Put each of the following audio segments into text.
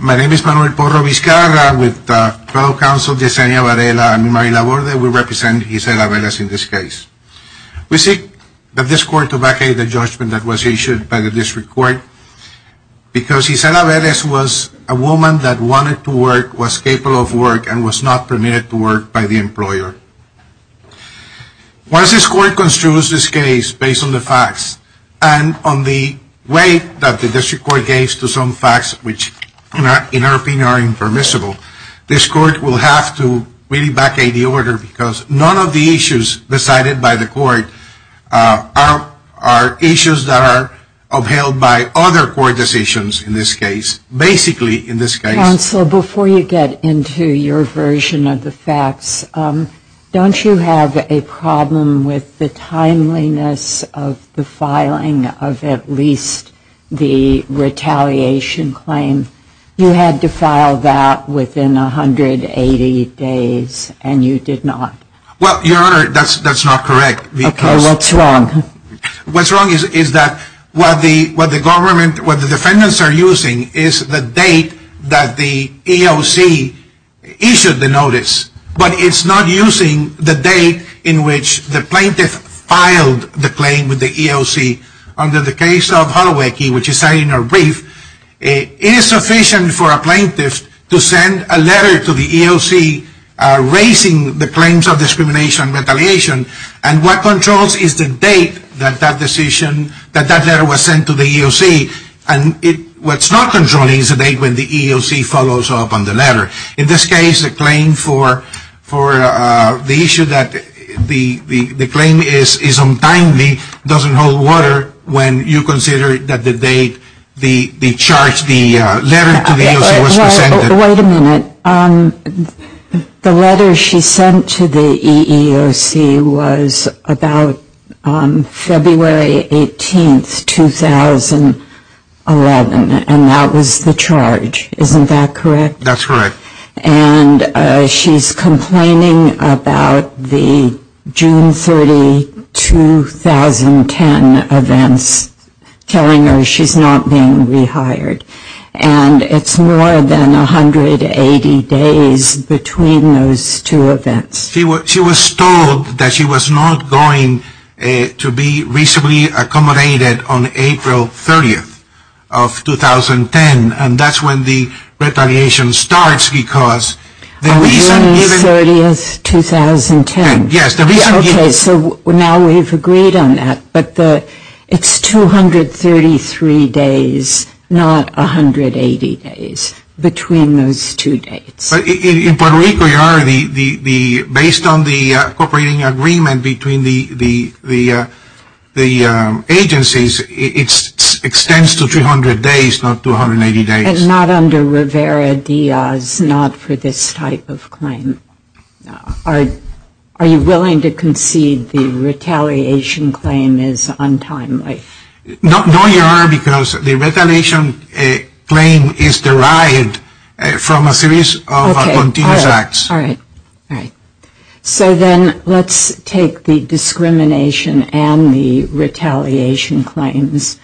My name is Manuel Porro Vizcarra. With the federal counsel, Yesenia Varela and Mary Laborde, we represent Isela Velez in this case. We seek that this court to vacate the judgment that was issued by the district court because Isela Velez was a woman that wanted to work, was capable of work, and was not permitted to work by the employer. Once this court construes this case based on the facts and on the way that the district court gave to some facts which in our opinion are impermissible, this court will have to vacate the order because none of the issues decided by the court are issues that are upheld by other court decisions in this case. Counsel, before you get into your version of the facts, don't you have a problem with the timeliness of the filing of at least the retaliation claim? You had to file that within 180 days and you did not. Well, Your Honor, that's not correct. Okay, what's wrong? What's wrong is that what the government, what the defendants are using is the date that the EOC issued the notice, but it's not using the date in which the plaintiff filed the claim with the EOC. Under the case of Holowicki, which is cited in our brief, it is sufficient for a plaintiff to send a letter to the EOC raising the claims of discrimination retaliation, and what controls is the date that that decision, that that letter was sent to the EOC, and what's not controlling is the date when the EOC follows up on the letter. In this case, the claim for the issue that the claim is untimely doesn't hold water when you consider that the date, the charge, the letter to the EOC was presented. Wait a minute. The letter she sent to the EEOC was about February 18, 2011, and that was the charge. Isn't that correct? That's correct. And she's complaining about the June 30, 2010 events, telling her she's not being rehired, and it's more than 180 days between those two events. She was told that she was not going to be reasonably accommodated on April 30, 2010, and that's when the retaliation starts because the reason given... April 30, 2010. Yes, the reason given... Okay, so now we've agreed on that, but it's 233 days, not 180 days between those two dates. In Puerto Rico, Your Honor, based on the cooperating agreement between the agencies, it extends to 300 days, not 280 days. And not under Rivera-Diaz, not for this type of claim. Are you willing to concede the retaliation claim is untimely? No, Your Honor, because the retaliation claim is derived from a series of continuous acts. All right. All right. So then let's take the discrimination and the retaliation claims.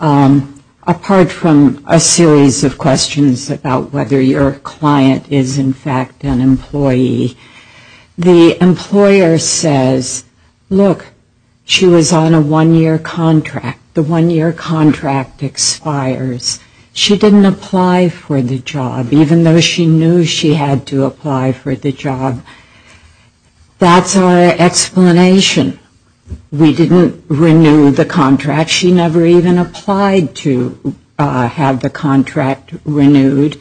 Apart from a series of questions about whether your client is in fact an employee, the employer says, look, she was on a one-year contract. The one-year contract expires. She didn't apply for the job, even though she knew she had to apply for the job. That's our explanation. We didn't renew the contract. She never even applied to have the contract renewed.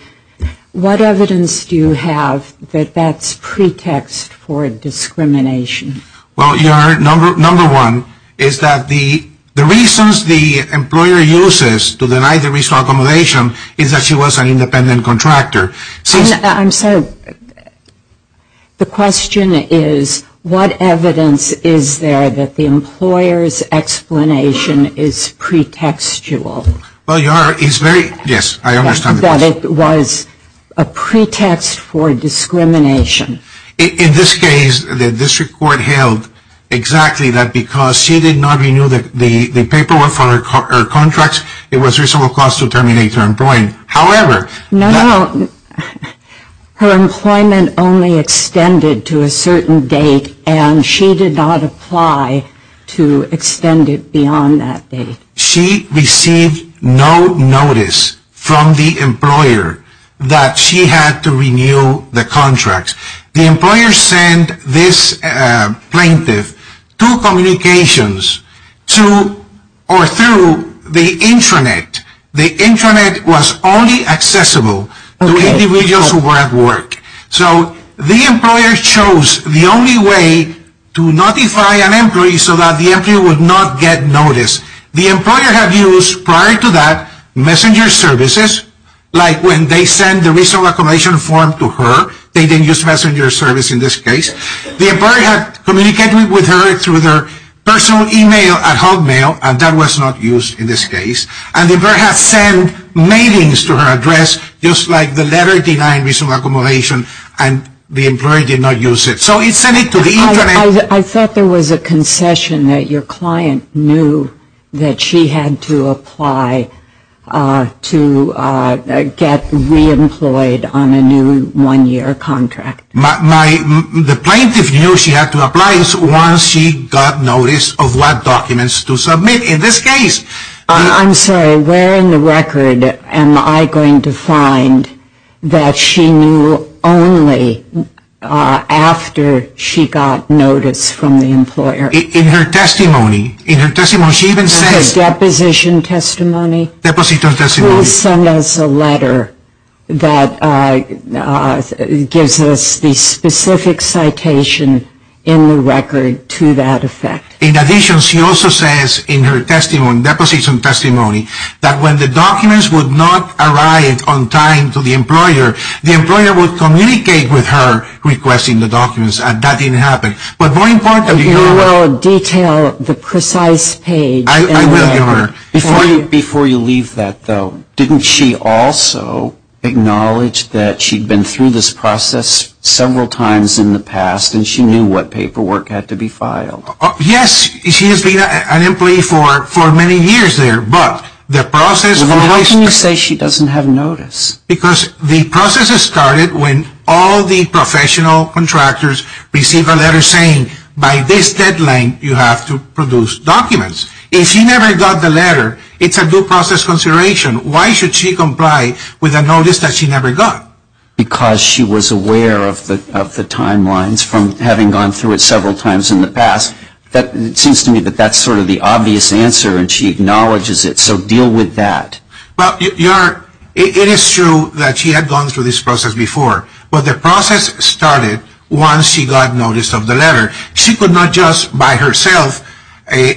What evidence do you have that that's pretext for discrimination? Well, Your Honor, number one is that the reasons the employer uses to deny the reasonable accommodation is that she was an independent contractor. I'm sorry. The question is, what evidence is there that the employer's explanation is pretextual? Well, Your Honor, it's very, yes, I understand the question. That it was a pretext for discrimination. In this case, the district court held exactly that because she did not renew the paperwork for her contracts, it was reasonable cause to terminate her employment. No, no, her employment only extended to a certain date and she did not apply to extend it beyond that date. She received no notice from the employer that she had to renew the contracts. The employer sent this plaintiff two communications to or through the intranet. The intranet was only accessible to individuals who were at work. So the employer chose the only way to notify an employee so that the employee would not get notice. The employer had used prior to that messenger services, like when they sent the reasonable accommodation form to her. They didn't use messenger service in this case. The employer had communicated with her through their personal email at Hotmail and that was not used in this case. And the employer had sent mailings to her address just like the letter denying reasonable accommodation and the employer did not use it. So it sent it to the intranet. I thought there was a concession that your client knew that she had to apply to get reemployed on a new one-year contract. The plaintiff knew she had to apply once she got notice of what documents to submit. I'm sorry, where in the record am I going to find that she knew only after she got notice from the employer? In her testimony. In her deposition testimony? Please send us a letter that gives us the specific citation in the record to that effect. In addition, she also says in her deposition testimony that when the documents would not arrive on time to the employer, the employer would communicate with her requesting the documents and that didn't happen. But more importantly. You will detail the precise page. I will give her. Before you leave that though, didn't she also acknowledge that she had been through this process several times in the past and she knew what paperwork had to be filed? Yes, she has been an employee for many years there. How can you say she doesn't have notice? Because the process started when all the professional contractors received a letter saying by this deadline you have to produce documents. If she never got the letter, it's a due process consideration. Why should she comply with a notice that she never got? Because she was aware of the timelines from having gone through it several times in the past. It seems to me that that's sort of the obvious answer and she acknowledges it. So deal with that. It is true that she had gone through this process before. But the process started once she got notice of the letter. She could not just by herself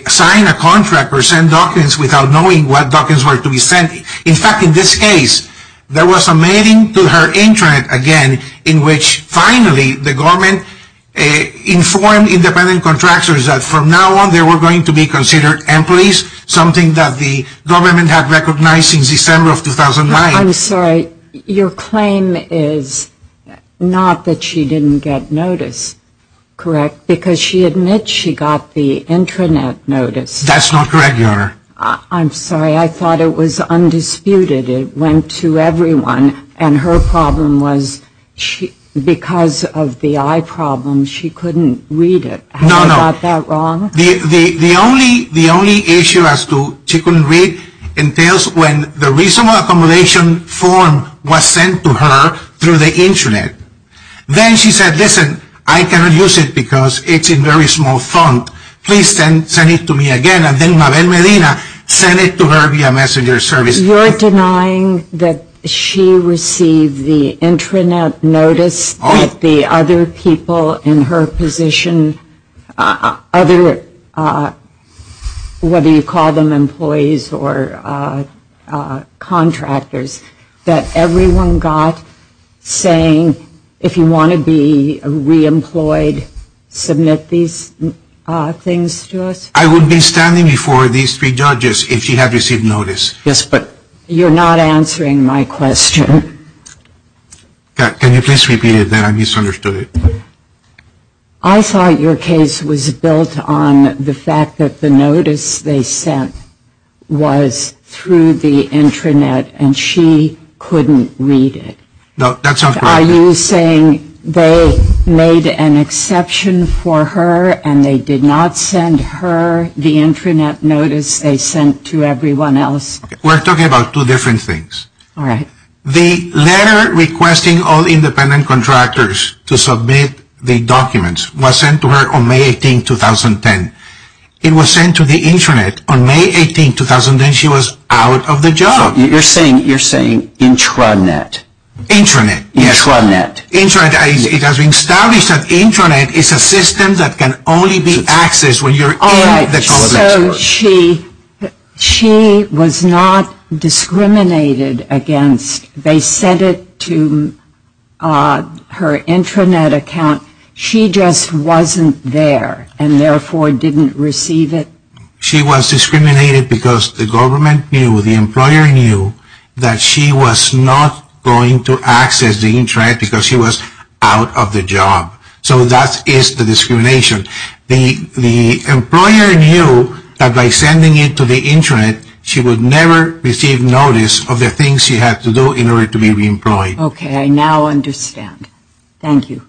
sign a contract or send documents without knowing what documents were to be sent. In fact, in this case, there was a mating to her intranet again in which finally the government informed independent contractors that from now on they were going to be considered employees, something that the government had recognized since December of 2009. I'm sorry, your claim is not that she didn't get notice, correct? Because she admits she got the intranet notice. That's not correct, Your Honor. I'm sorry. I thought it was undisputed. It went to everyone. And her problem was because of the eye problem, she couldn't read it. Have you got that wrong? No, no. The only issue as to she couldn't read entails when the reasonable accommodation form was sent to her through the intranet. Then she said, listen, I cannot use it because it's a very small font. Please send it to me again. And then Mabel Medina sent it to her via messenger service. You're denying that she received the intranet notice that the other people in her position, whether you call them employees or contractors, that everyone got saying, if you want to be re-employed, submit these things to us. I would be standing before these three judges if she had received notice. Yes, but you're not answering my question. Can you please repeat it then? I misunderstood it. I thought your case was built on the fact that the notice they sent was through the intranet and she couldn't read it. No, that sounds correct. Are you saying they made an exception for her and they did not send her the intranet notice they sent to everyone else? We're talking about two different things. All right. The letter requesting all independent contractors to submit the documents was sent to her on May 18, 2010. It was sent to the intranet on May 18, 2010. She was out of the job. You're saying intranet. Intranet, yes. Intranet. It has been established that intranet is a system that can only be accessed when you're in the complex. All right, so she was not discriminated against. They sent it to her intranet account. She just wasn't there and, therefore, didn't receive it. She was discriminated because the government knew, the employer knew, that she was not going to access the intranet because she was out of the job. So that is the discrimination. The employer knew that by sending it to the intranet, she would never receive notice of the things she had to do in order to be reemployed. Okay, I now understand. Thank you.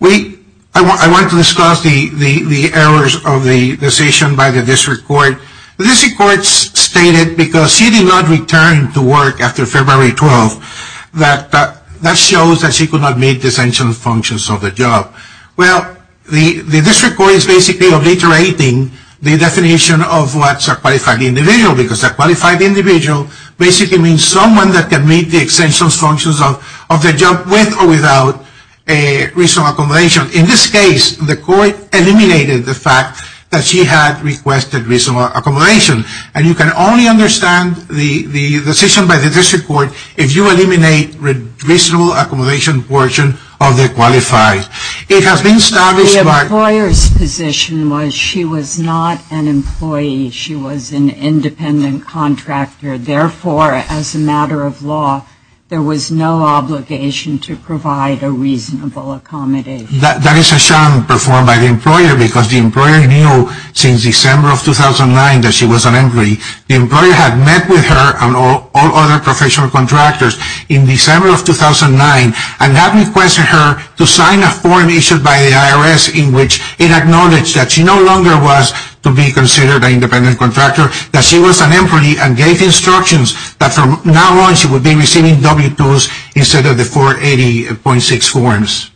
I want to discuss the errors of the decision by the district court. The district court stated, because she did not return to work after February 12, that that shows that she could not meet the essential functions of the job. Well, the district court is basically obliterating the definition of what's a qualified individual because a qualified individual basically means someone that can meet the essential functions of the job with or without reasonable accommodation. In this case, the court eliminated the fact that she had requested reasonable accommodation. And you can only understand the decision by the district court if you eliminate the reasonable accommodation portion of the qualified. The employer's position was she was not an employee. She was an independent contractor. Therefore, as a matter of law, there was no obligation to provide a reasonable accommodation. That is a sham performed by the employer because the employer knew since December of 2009 that she was an employee. The employer had met with her and all other professional contractors in December of 2009 and had requested her to sign a form issued by the IRS in which it acknowledged that she no longer was to be considered an independent contractor, that she was an employee, and gave instructions that from now on she would be receiving W-2s instead of the 480.6 forms.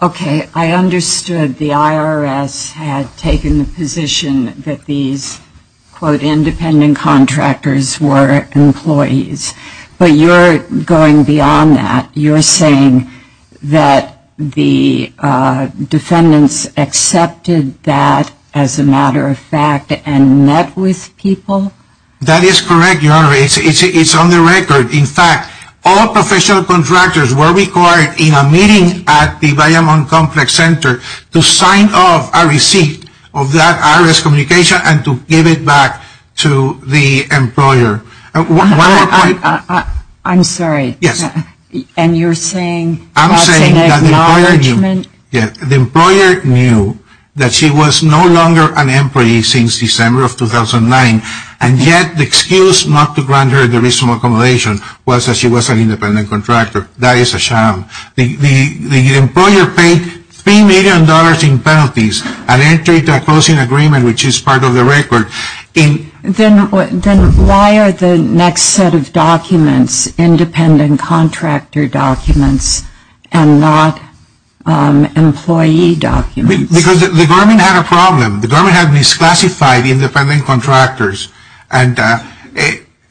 Okay. I understood the IRS had taken the position that these, quote, independent contractors were employees. But you're going beyond that. You're saying that the defendants accepted that as a matter of fact and met with people? That is correct, Your Honor. It's on the record. In fact, all professional contractors were required in a meeting at the Bayamon Complex Center to sign off a receipt of that IRS communication and to give it back to the employer. One more point. I'm sorry. Yes. And you're saying that's an acknowledgment? I'm saying that the employer knew that she was no longer an employee since December of 2009, and yet the excuse not to grant her the reasonable accommodation was that she was an independent contractor. That is a sham. The employer paid $3 million in penalties and entered into a closing agreement, which is part of the record. Then why are the next set of documents independent contractor documents and not employee documents? Because the government had a problem. The government had misclassified independent contractors and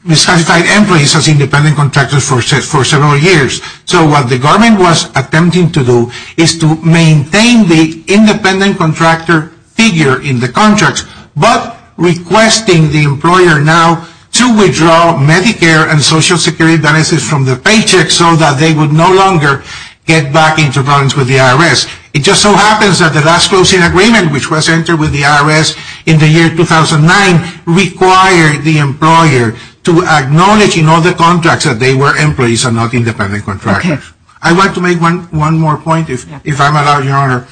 misclassified employees as independent contractors for several years. So what the government was attempting to do is to maintain the independent contractor figure in the contracts but requesting the employer now to withdraw Medicare and Social Security benefits from the paychecks so that they would no longer get back into problems with the IRS. It just so happens that the last closing agreement, which was entered with the IRS in the year 2009, required the employer to acknowledge in all the contracts that they were employees and not independent contractors. I'd like to make one more point, if I'm allowed, Your Honor.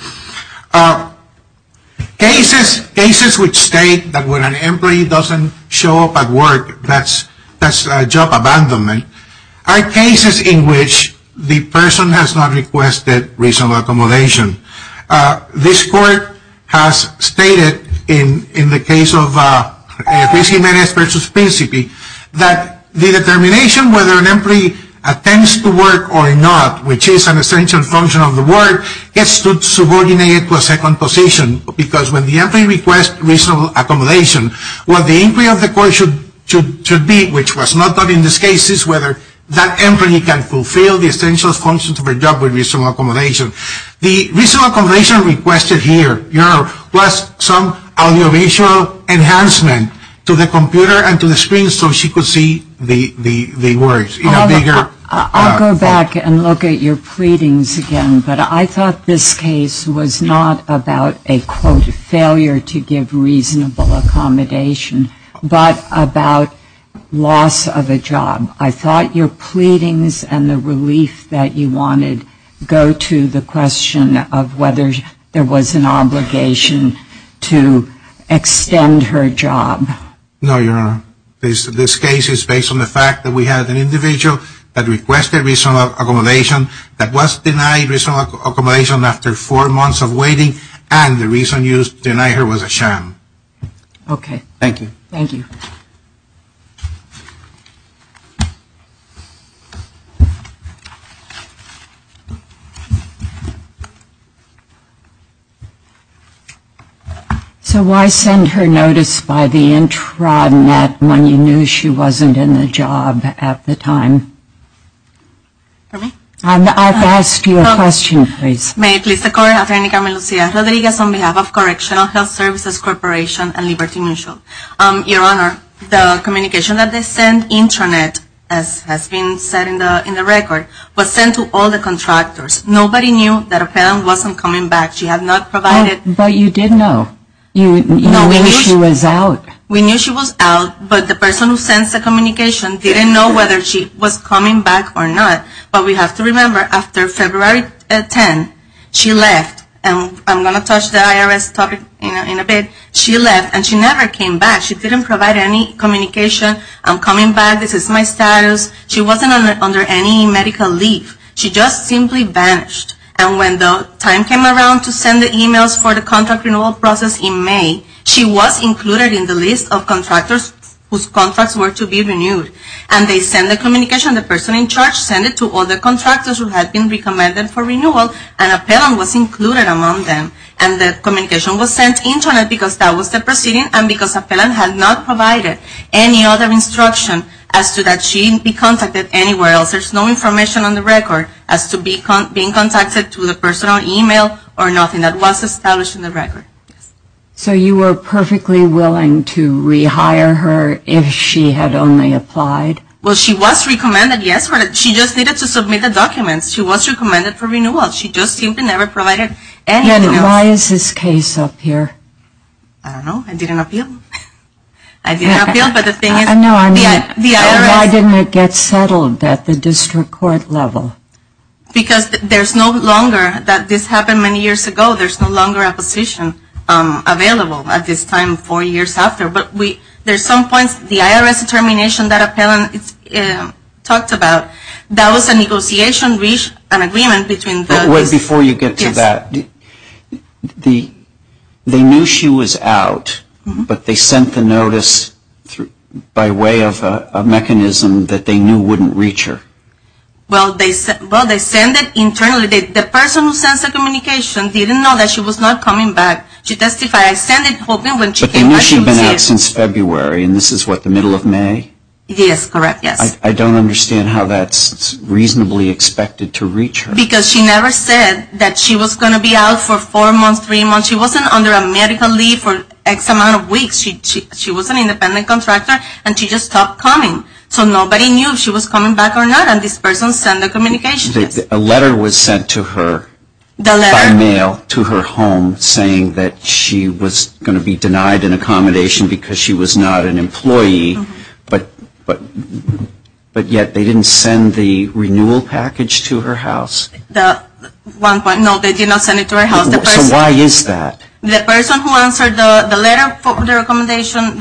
Cases which state that when an employee doesn't show up at work, that's job abandonment, are cases in which the person has not requested reasonable accommodation. This court has stated in the case of PCMNS versus PCP, that the determination whether an employee attends to work or not, which is an essential function of the work, gets subordinated to a second position. Because when the employee requests reasonable accommodation, what the inquiry of the court should be, which was not done in this case, is whether that employee can fulfill the essential functions of her job with reasonable accommodation. The reasonable accommodation requested here, Your Honor, was some audiovisual enhancement to the computer and to the screen so she could see the work. I'll go back and look at your pleadings again. But I thought this case was not about a, quote, failure to give reasonable accommodation, but about loss of a job. I thought your pleadings and the relief that you wanted go to the question of whether there was an obligation to extend her job. No, Your Honor. This case is based on the fact that we had an individual that requested reasonable accommodation that was denied reasonable accommodation after four months of waiting, and the reason used to deny her was a sham. Okay. Thank you. Thank you. So why send her notice by the intranet when you knew she wasn't in the job at the time? Pardon me? I've asked you a question, please. May it please the Court, Attorney Carmel Lucía Rodriguez, on behalf of Correctional Health Services Corporation and Liberty Mutual. As has been said in the record, was sent to all the contractors. Nobody knew that a pen wasn't coming back. She had not provided. But you did know. You knew she was out. We knew she was out, but the person who sends the communication didn't know whether she was coming back or not. But we have to remember, after February 10, she left. And I'm going to touch the IRS topic in a bit. She left, and she never came back. She didn't provide any communication. I'm coming back. This is my status. She wasn't under any medical leave. She just simply vanished. And when the time came around to send the emails for the contract renewal process in May, she was included in the list of contractors whose contracts were to be renewed. And they sent the communication. The person in charge sent it to all the contractors who had been recommended for renewal, and a pen was included among them. And the communication was sent intranet because that was the proceeding and because a pen had not provided any other instruction as to that she be contacted anywhere else. There's no information on the record as to being contacted to the person on email or nothing. That was established in the record. So you were perfectly willing to rehire her if she had only applied? Well, she was recommended, yes. She just needed to submit the documents. She was recommended for renewal. And why is this case up here? I don't know. I didn't appeal. I didn't appeal, but the thing is, the IRS. Why didn't it get settled at the district court level? Because there's no longer that this happened many years ago. There's no longer a position available at this time four years after. But there's some points, the IRS determination that Appellant talked about, that was a negotiation reached, an agreement between the. Before you get to that, they knew she was out, but they sent the notice by way of a mechanism that they knew wouldn't reach her. Well, they sent it internally. The person who sends the communication didn't know that she was not coming back. She testified. I sent it hoping when she came back she would see it. But they knew she'd been out since February, and this is what, the middle of May? Yes, correct, yes. I don't understand how that's reasonably expected to reach her. Because she never said that she was going to be out for four months, three months. She wasn't under a medical leave for X amount of weeks. She was an independent contractor, and she just stopped coming. So nobody knew if she was coming back or not, and this person sent the communication. A letter was sent to her. The letter. By mail to her home saying that she was going to be denied an accommodation because she was not an employee, but yet they didn't send the renewal package to her house. One point. No, they did not send it to her house. So why is that? The person who answered the letter for the recommendation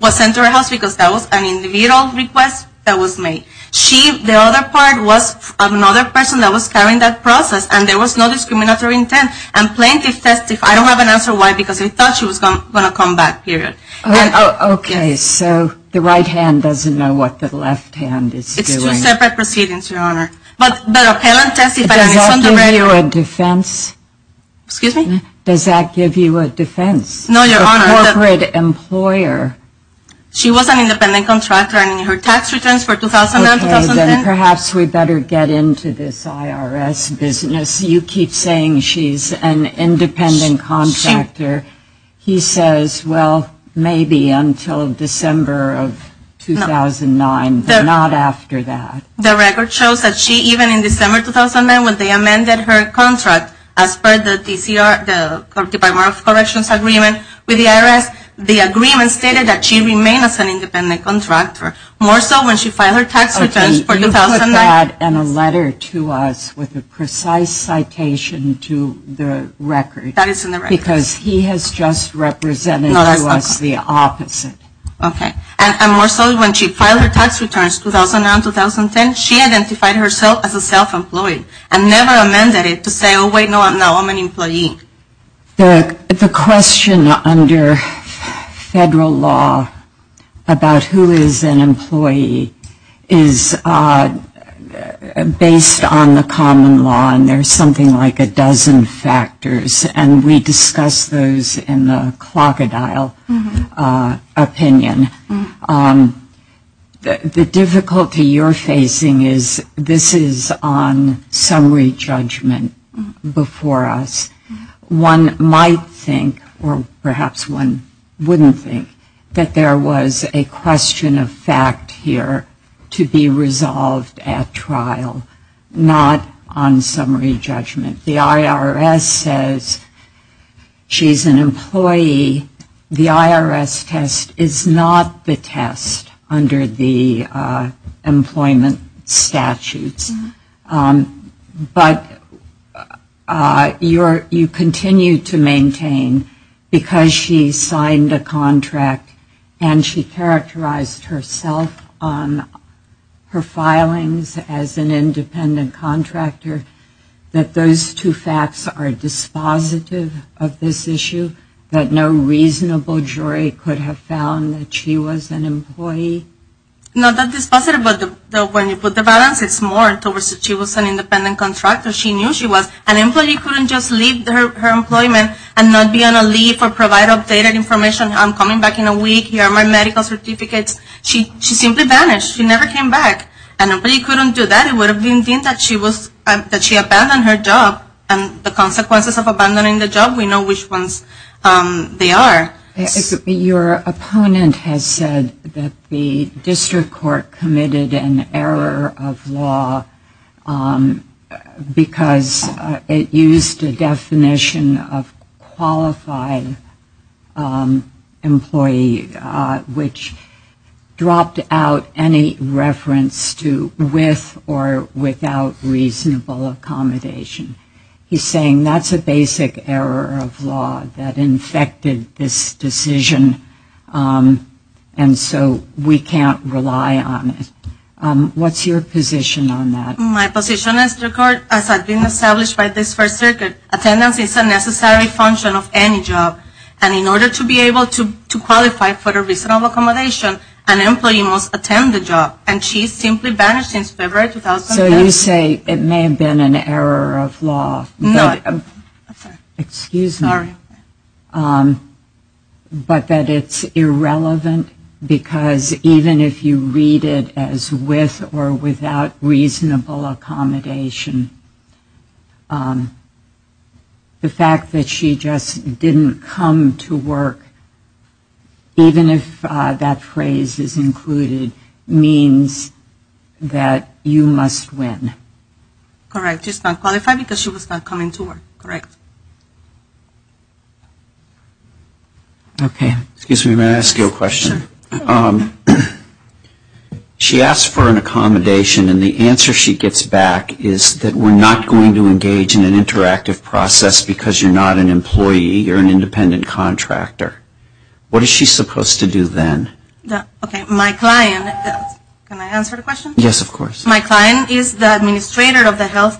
was sent to her house because that was an individual request that was made. She, the other part, was another person that was carrying that process, and there was no discriminatory intent, and plaintiff testified. I don't have an answer why, because I thought she was going to come back, period. Okay. So the right hand doesn't know what the left hand is doing. It's two separate proceedings, Your Honor. But the plaintiff testified. Does that give you a defense? Excuse me? Does that give you a defense? No, Your Honor. A corporate employer. She was an independent contractor, and her tax returns for 2009, 2010. Okay. Then perhaps we better get into this IRS business. You keep saying she's an independent contractor. He says, well, maybe until December of 2009, but not after that. The record shows that she, even in December 2009, when they amended her contract, as per the TCR, the Corrupted By Moral Corrections Agreement with the IRS, the agreement stated that she remained as an independent contractor, more so when she filed her tax returns for 2009. And a letter to us with a precise citation to the record. That is in the record. Because he has just represented to us the opposite. Okay. And more so when she filed her tax returns 2009, 2010, she identified herself as a self-employed and never amended it to say, oh, wait, no, I'm not, I'm an employee. The question under federal law about who is an employee is based on the common law, and there's something like a dozen factors. And we discuss those in the clock-a-dile opinion. The difficulty you're facing is this is on summary judgment before us. One might think, or perhaps one wouldn't think, that there was a question of fact here to be resolved at trial, not on summary judgment. The IRS test is not the test under the employment statutes. But you continue to maintain, because she signed a contract and she characterized herself on her filings as an independent contractor, that those two facts are dispositive of this issue, that no reasonable jury could have found that she was an employee? Not that dispositive, but when you put the balance, it's more towards that she was an independent contractor. She knew she was. An employee couldn't just leave her employment and not be on a leave or provide updated information. I'm coming back in a week. Here are my medical certificates. She simply vanished. She never came back. An employee couldn't do that. She abandoned her job, and the consequences of abandoning the job, we know which ones they are. Your opponent has said that the district court committed an error of law because it used a definition of qualified employee, which dropped out any reference to with or without reasonable accommodation. He's saying that's a basic error of law that infected this decision, and so we can't rely on it. What's your position on that? My position is the court, as has been established by this First Circuit, attendance is a necessary function of any job, and in order to be able to qualify for a reasonable accommodation, an employee must attend the job, and she simply vanished since February 2010. So you say it may have been an error of law. No. Excuse me. Sorry. But that it's irrelevant because even if you read it as with or without reasonable accommodation, the fact that she just didn't come to work, even if that phrase is included, means that you must win. Correct. She's not qualified because she was not coming to work. Correct. Okay. Excuse me. May I ask you a question? Sure. She asked for an accommodation, and the answer she gets back is that we're not going to engage in an interactive process because you're not an employee, you're an independent contractor. What is she supposed to do then? Okay. My client, can I answer the question? Yes, of course. My client is the administrator of the health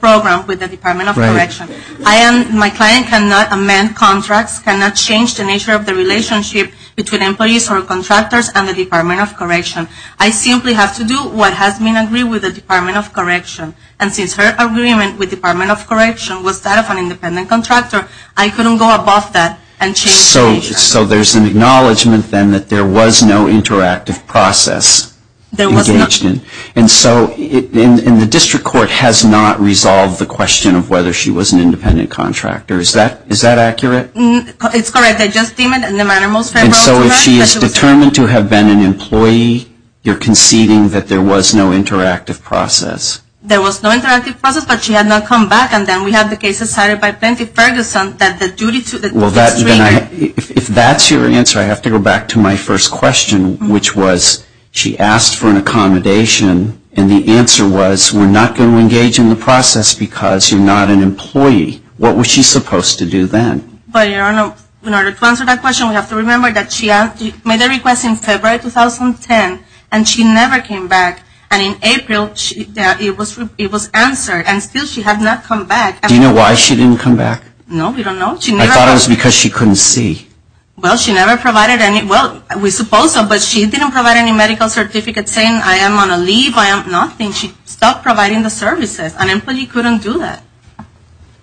program with the Department of Correction. Right. My client cannot amend contracts, cannot change the nature of the relationship between employees or contractors and the Department of Correction. I simply have to do what has been agreed with the Department of Correction. And since her agreement with the Department of Correction was that of an independent contractor, I couldn't go above that and change the nature. So there's an acknowledgement then that there was no interactive process engaged in. There was not. And so the district court has not resolved the question of whether she was an independent contractor. Is that accurate? It's correct. I just deem it in the manner most favorable to her. And so if she is determined to have been an employee, you're conceding that there was no interactive process. There was no interactive process, but she had not come back. And then we have the case decided by Plenty Ferguson that the duty to the district. If that's your answer, I have to go back to my first question, which was she asked for an accommodation, and the answer was, we're not going to engage in the process because you're not an employee. What was she supposed to do then? But, your Honor, in order to answer that question, we have to remember that she made a request in February 2010, and she never came back. And in April, it was answered, and still she had not come back. Do you know why she didn't come back? No, we don't know. I thought it was because she couldn't see. Well, she never provided any, well, we suppose so, but she didn't provide any medical certificates saying I am on a leave, I am nothing. She stopped providing the services. An employee couldn't do that.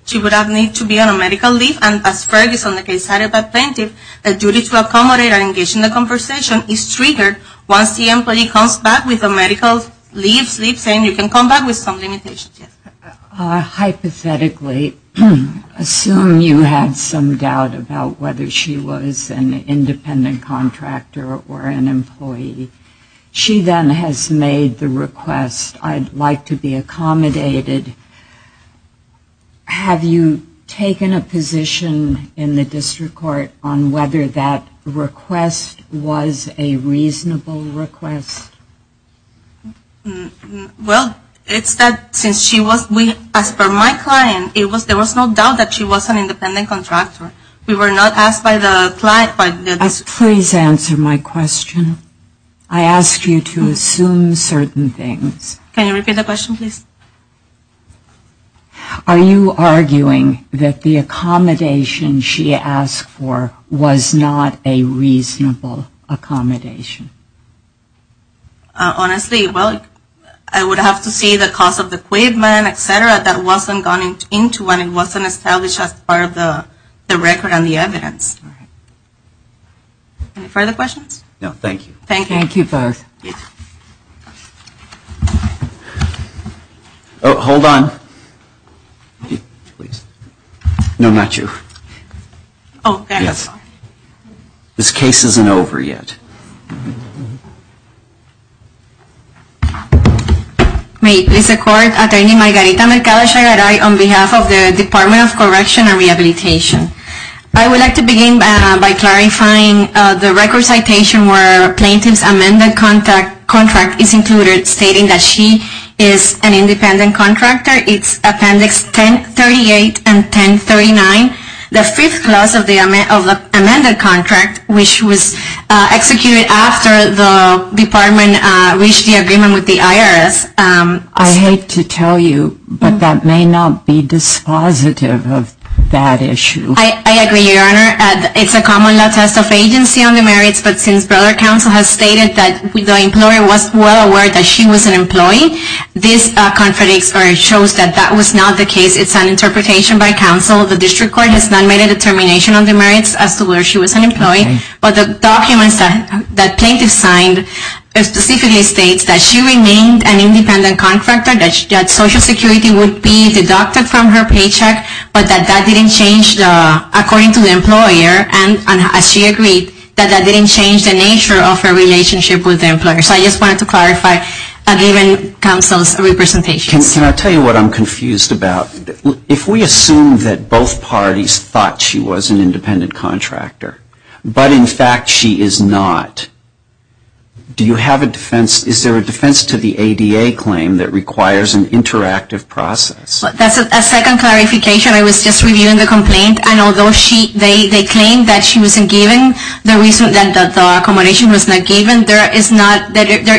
She would not need to be on a medical leave, and as Ferguson, the case decided by Plenty, the duty to accommodate and engage in the conversation is triggered once the employee comes back with a medical leave saying you can come back with some limitations. Hypothetically, assume you had some doubt about whether she was an independent contractor or an employee. She then has made the request, I'd like to be accommodated. Have you taken a position in the district court on whether that request was a reasonable request? Well, it's that since she was, as per my client, there was no doubt that she was an independent contractor. We were not asked by the client. Please answer my question. I asked you to assume certain things. Can you repeat the question, please? Are you arguing that the accommodation she asked for was not a reasonable accommodation? Honestly, well, I would have to see the cost of the equipment, et cetera, that wasn't gone into when it wasn't established as part of the record and the evidence. Any further questions? No, thank you. Thank you both. Hold on. No, not you. This case isn't over yet. I would like to begin by clarifying the record citation where plaintiff's amended contract is included, stating that she is an independent contractor. It's appendix 1038 and 1039. The fifth clause of the amended contract, which was executed in 2013, states that she was an employee. It was executed after the department reached the agreement with the IRS. I hate to tell you, but that may not be dispositive of that issue. I agree, Your Honor. It's a common latest of agency on the merits, but since broader counsel has stated that the employer was well aware that she was an employee, this contradicts or shows that that was not the case. It's an interpretation by counsel. The district court has not made a determination on the merits as to whether she was an employee. But the documents that plaintiff signed specifically states that she remained an independent contractor, that Social Security would be deducted from her paycheck, but that that didn't change according to the employer, and she agreed that that didn't change the nature of her relationship with the employer. So I just wanted to clarify given counsel's representation. Can I tell you what I'm confused about? If we assume that both parties thought she was an independent contractor, but in fact she is not, do you have a defense? Is there a defense to the ADA claim that requires an interactive process? That's a second clarification. I was just reviewing the complaint, and although they claim that she wasn't there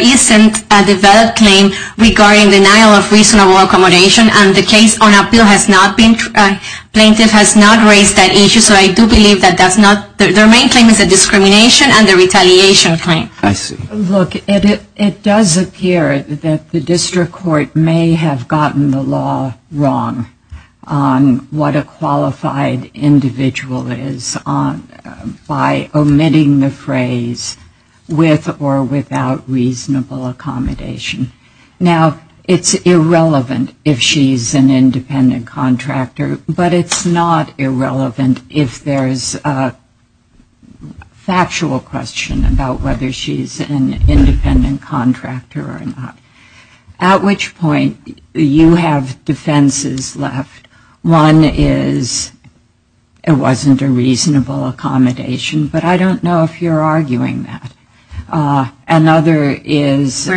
isn't a developed claim regarding denial of reasonable accommodation, and the case on appeal has not been, plaintiff has not raised that issue. So I do believe that that's not, their main claim is a discrimination and a retaliation claim. I see. Look, it does appear that the district court may have gotten the law wrong on what a qualified individual is by omitting the phrase with or without reasonable accommodation. Now, it's irrelevant if she's an independent contractor, but it's not irrelevant if there's a factual question about whether she's an independent contractor or not, at which point you have defenses left. One is it wasn't a reasonable accommodation, but I don't know if you're arguing that. Another is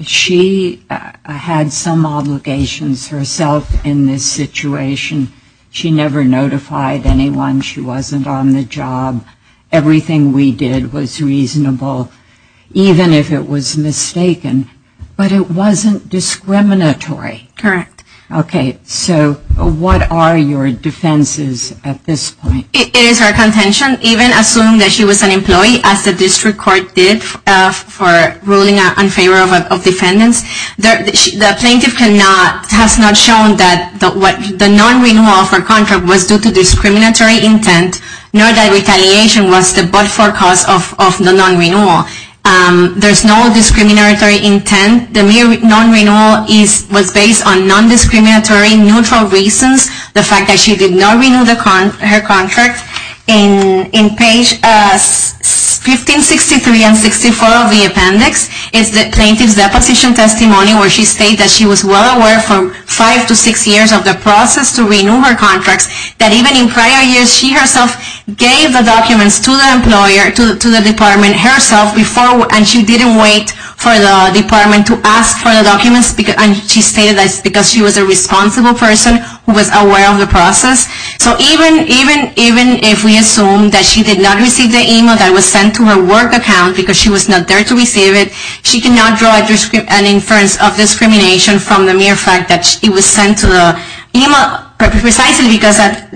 she had some obligations herself in this situation. She never notified anyone. She wasn't on the job. Everything we did was reasonable, even if it was mistaken, but it wasn't discriminatory. Correct. Okay. So what are your defenses at this point? It is her contention, even assuming that she was an employee, as the district court did for ruling in favor of defendants. The plaintiff has not shown that the non-renewal of her contract was due to discriminatory intent, nor that retaliation was the but-for cause of the non-renewal. There's no discriminatory intent. The mere non-renewal was based on non-discriminatory neutral reasons, the fact that she did not renew her contract. In page 1563 and 64 of the appendix is the plaintiff's deposition testimony where she states that she was well aware for five to six years of the process to renew her contracts, that even in prior years she herself gave the documents to the employer, to the department herself, and she didn't wait for the department to ask for the documents, because she was a responsible person who was aware of the process. So even if we assume that she did not receive the email that was sent to her work account because she was not there to receive it, she cannot draw an inference of discrimination from the mere fact that it was sent to the email precisely because at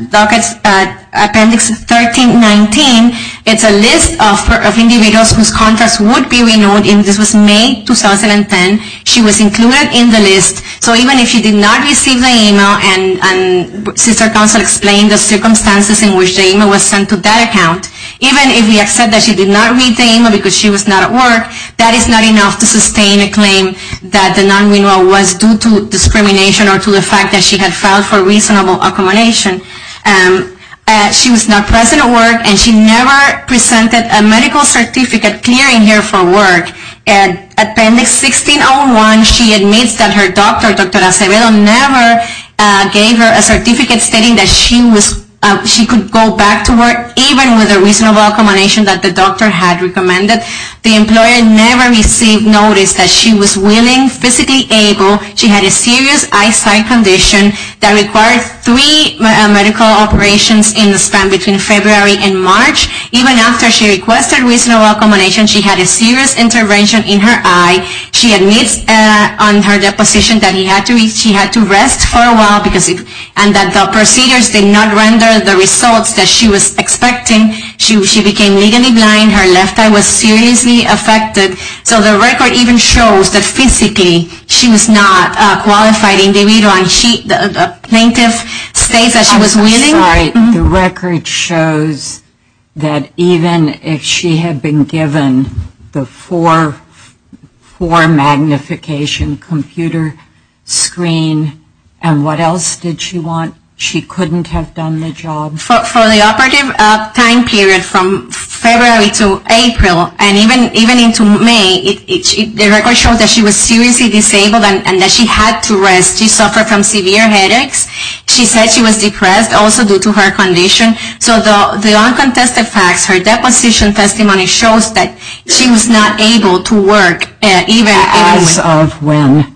appendix 1319, it's a list of individuals whose contracts would be renewed, and this was May 2010. She was included in the list. So even if she did not receive the email, and since our counsel explained the circumstances in which the email was sent to that account, even if we accept that she did not read the email because she was not at work, that is not enough to sustain a claim that the non-renewal was due to discrimination or to the fact that she had filed for reasonable accommodation. She was not present at work, and she never presented a medical certificate clearing here for work. At appendix 1601, she admits that her doctor, Dr. Acevedo, never gave her a certificate stating that she could go back to work even with a reasonable accommodation that the doctor had recommended. The employer never received notice that she was willing, physically able. She had a serious eyesight condition that required three medical operations in the span between February and March. Even after she requested reasonable accommodation, she had a serious intervention in her eye. She admits on her deposition that she had to rest for a while, and that the procedures did not render the results that she was expecting. She became legally blind. Her left eye was seriously affected. So the record even shows that physically she was not a qualified individual, and the plaintiff states that she was willing. All right. The record shows that even if she had been given the four magnification computer screen, and what else did she want? She couldn't have done the job. For the operative time period from February to April, and even into May, the record shows that she was seriously disabled and that she had to rest. She suffered from severe headaches. She said she was depressed also due to her condition. So the uncontested facts, her deposition testimony, shows that she was not able to work even as of when?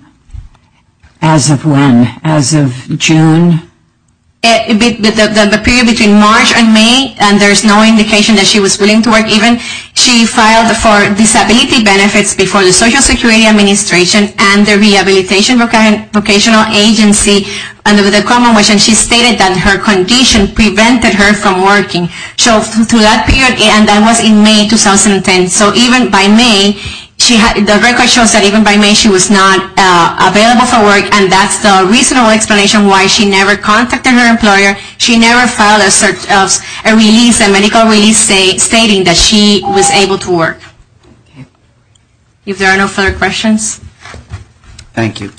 As of when? As of June? The period between March and May, and there's no indication that she was willing to work even. She filed for disability benefits before the Social Security Administration and the Rehabilitation Vocational Agency under the common wish, and she stated that her condition prevented her from working. So through that period, and that was in May 2010, so even by May, the record shows that even by May she was not available for work, and that's the reasonable explanation why she never contacted her employer. She never filed a release, a medical release stating that she was able to work. If there are no further questions. Thank you.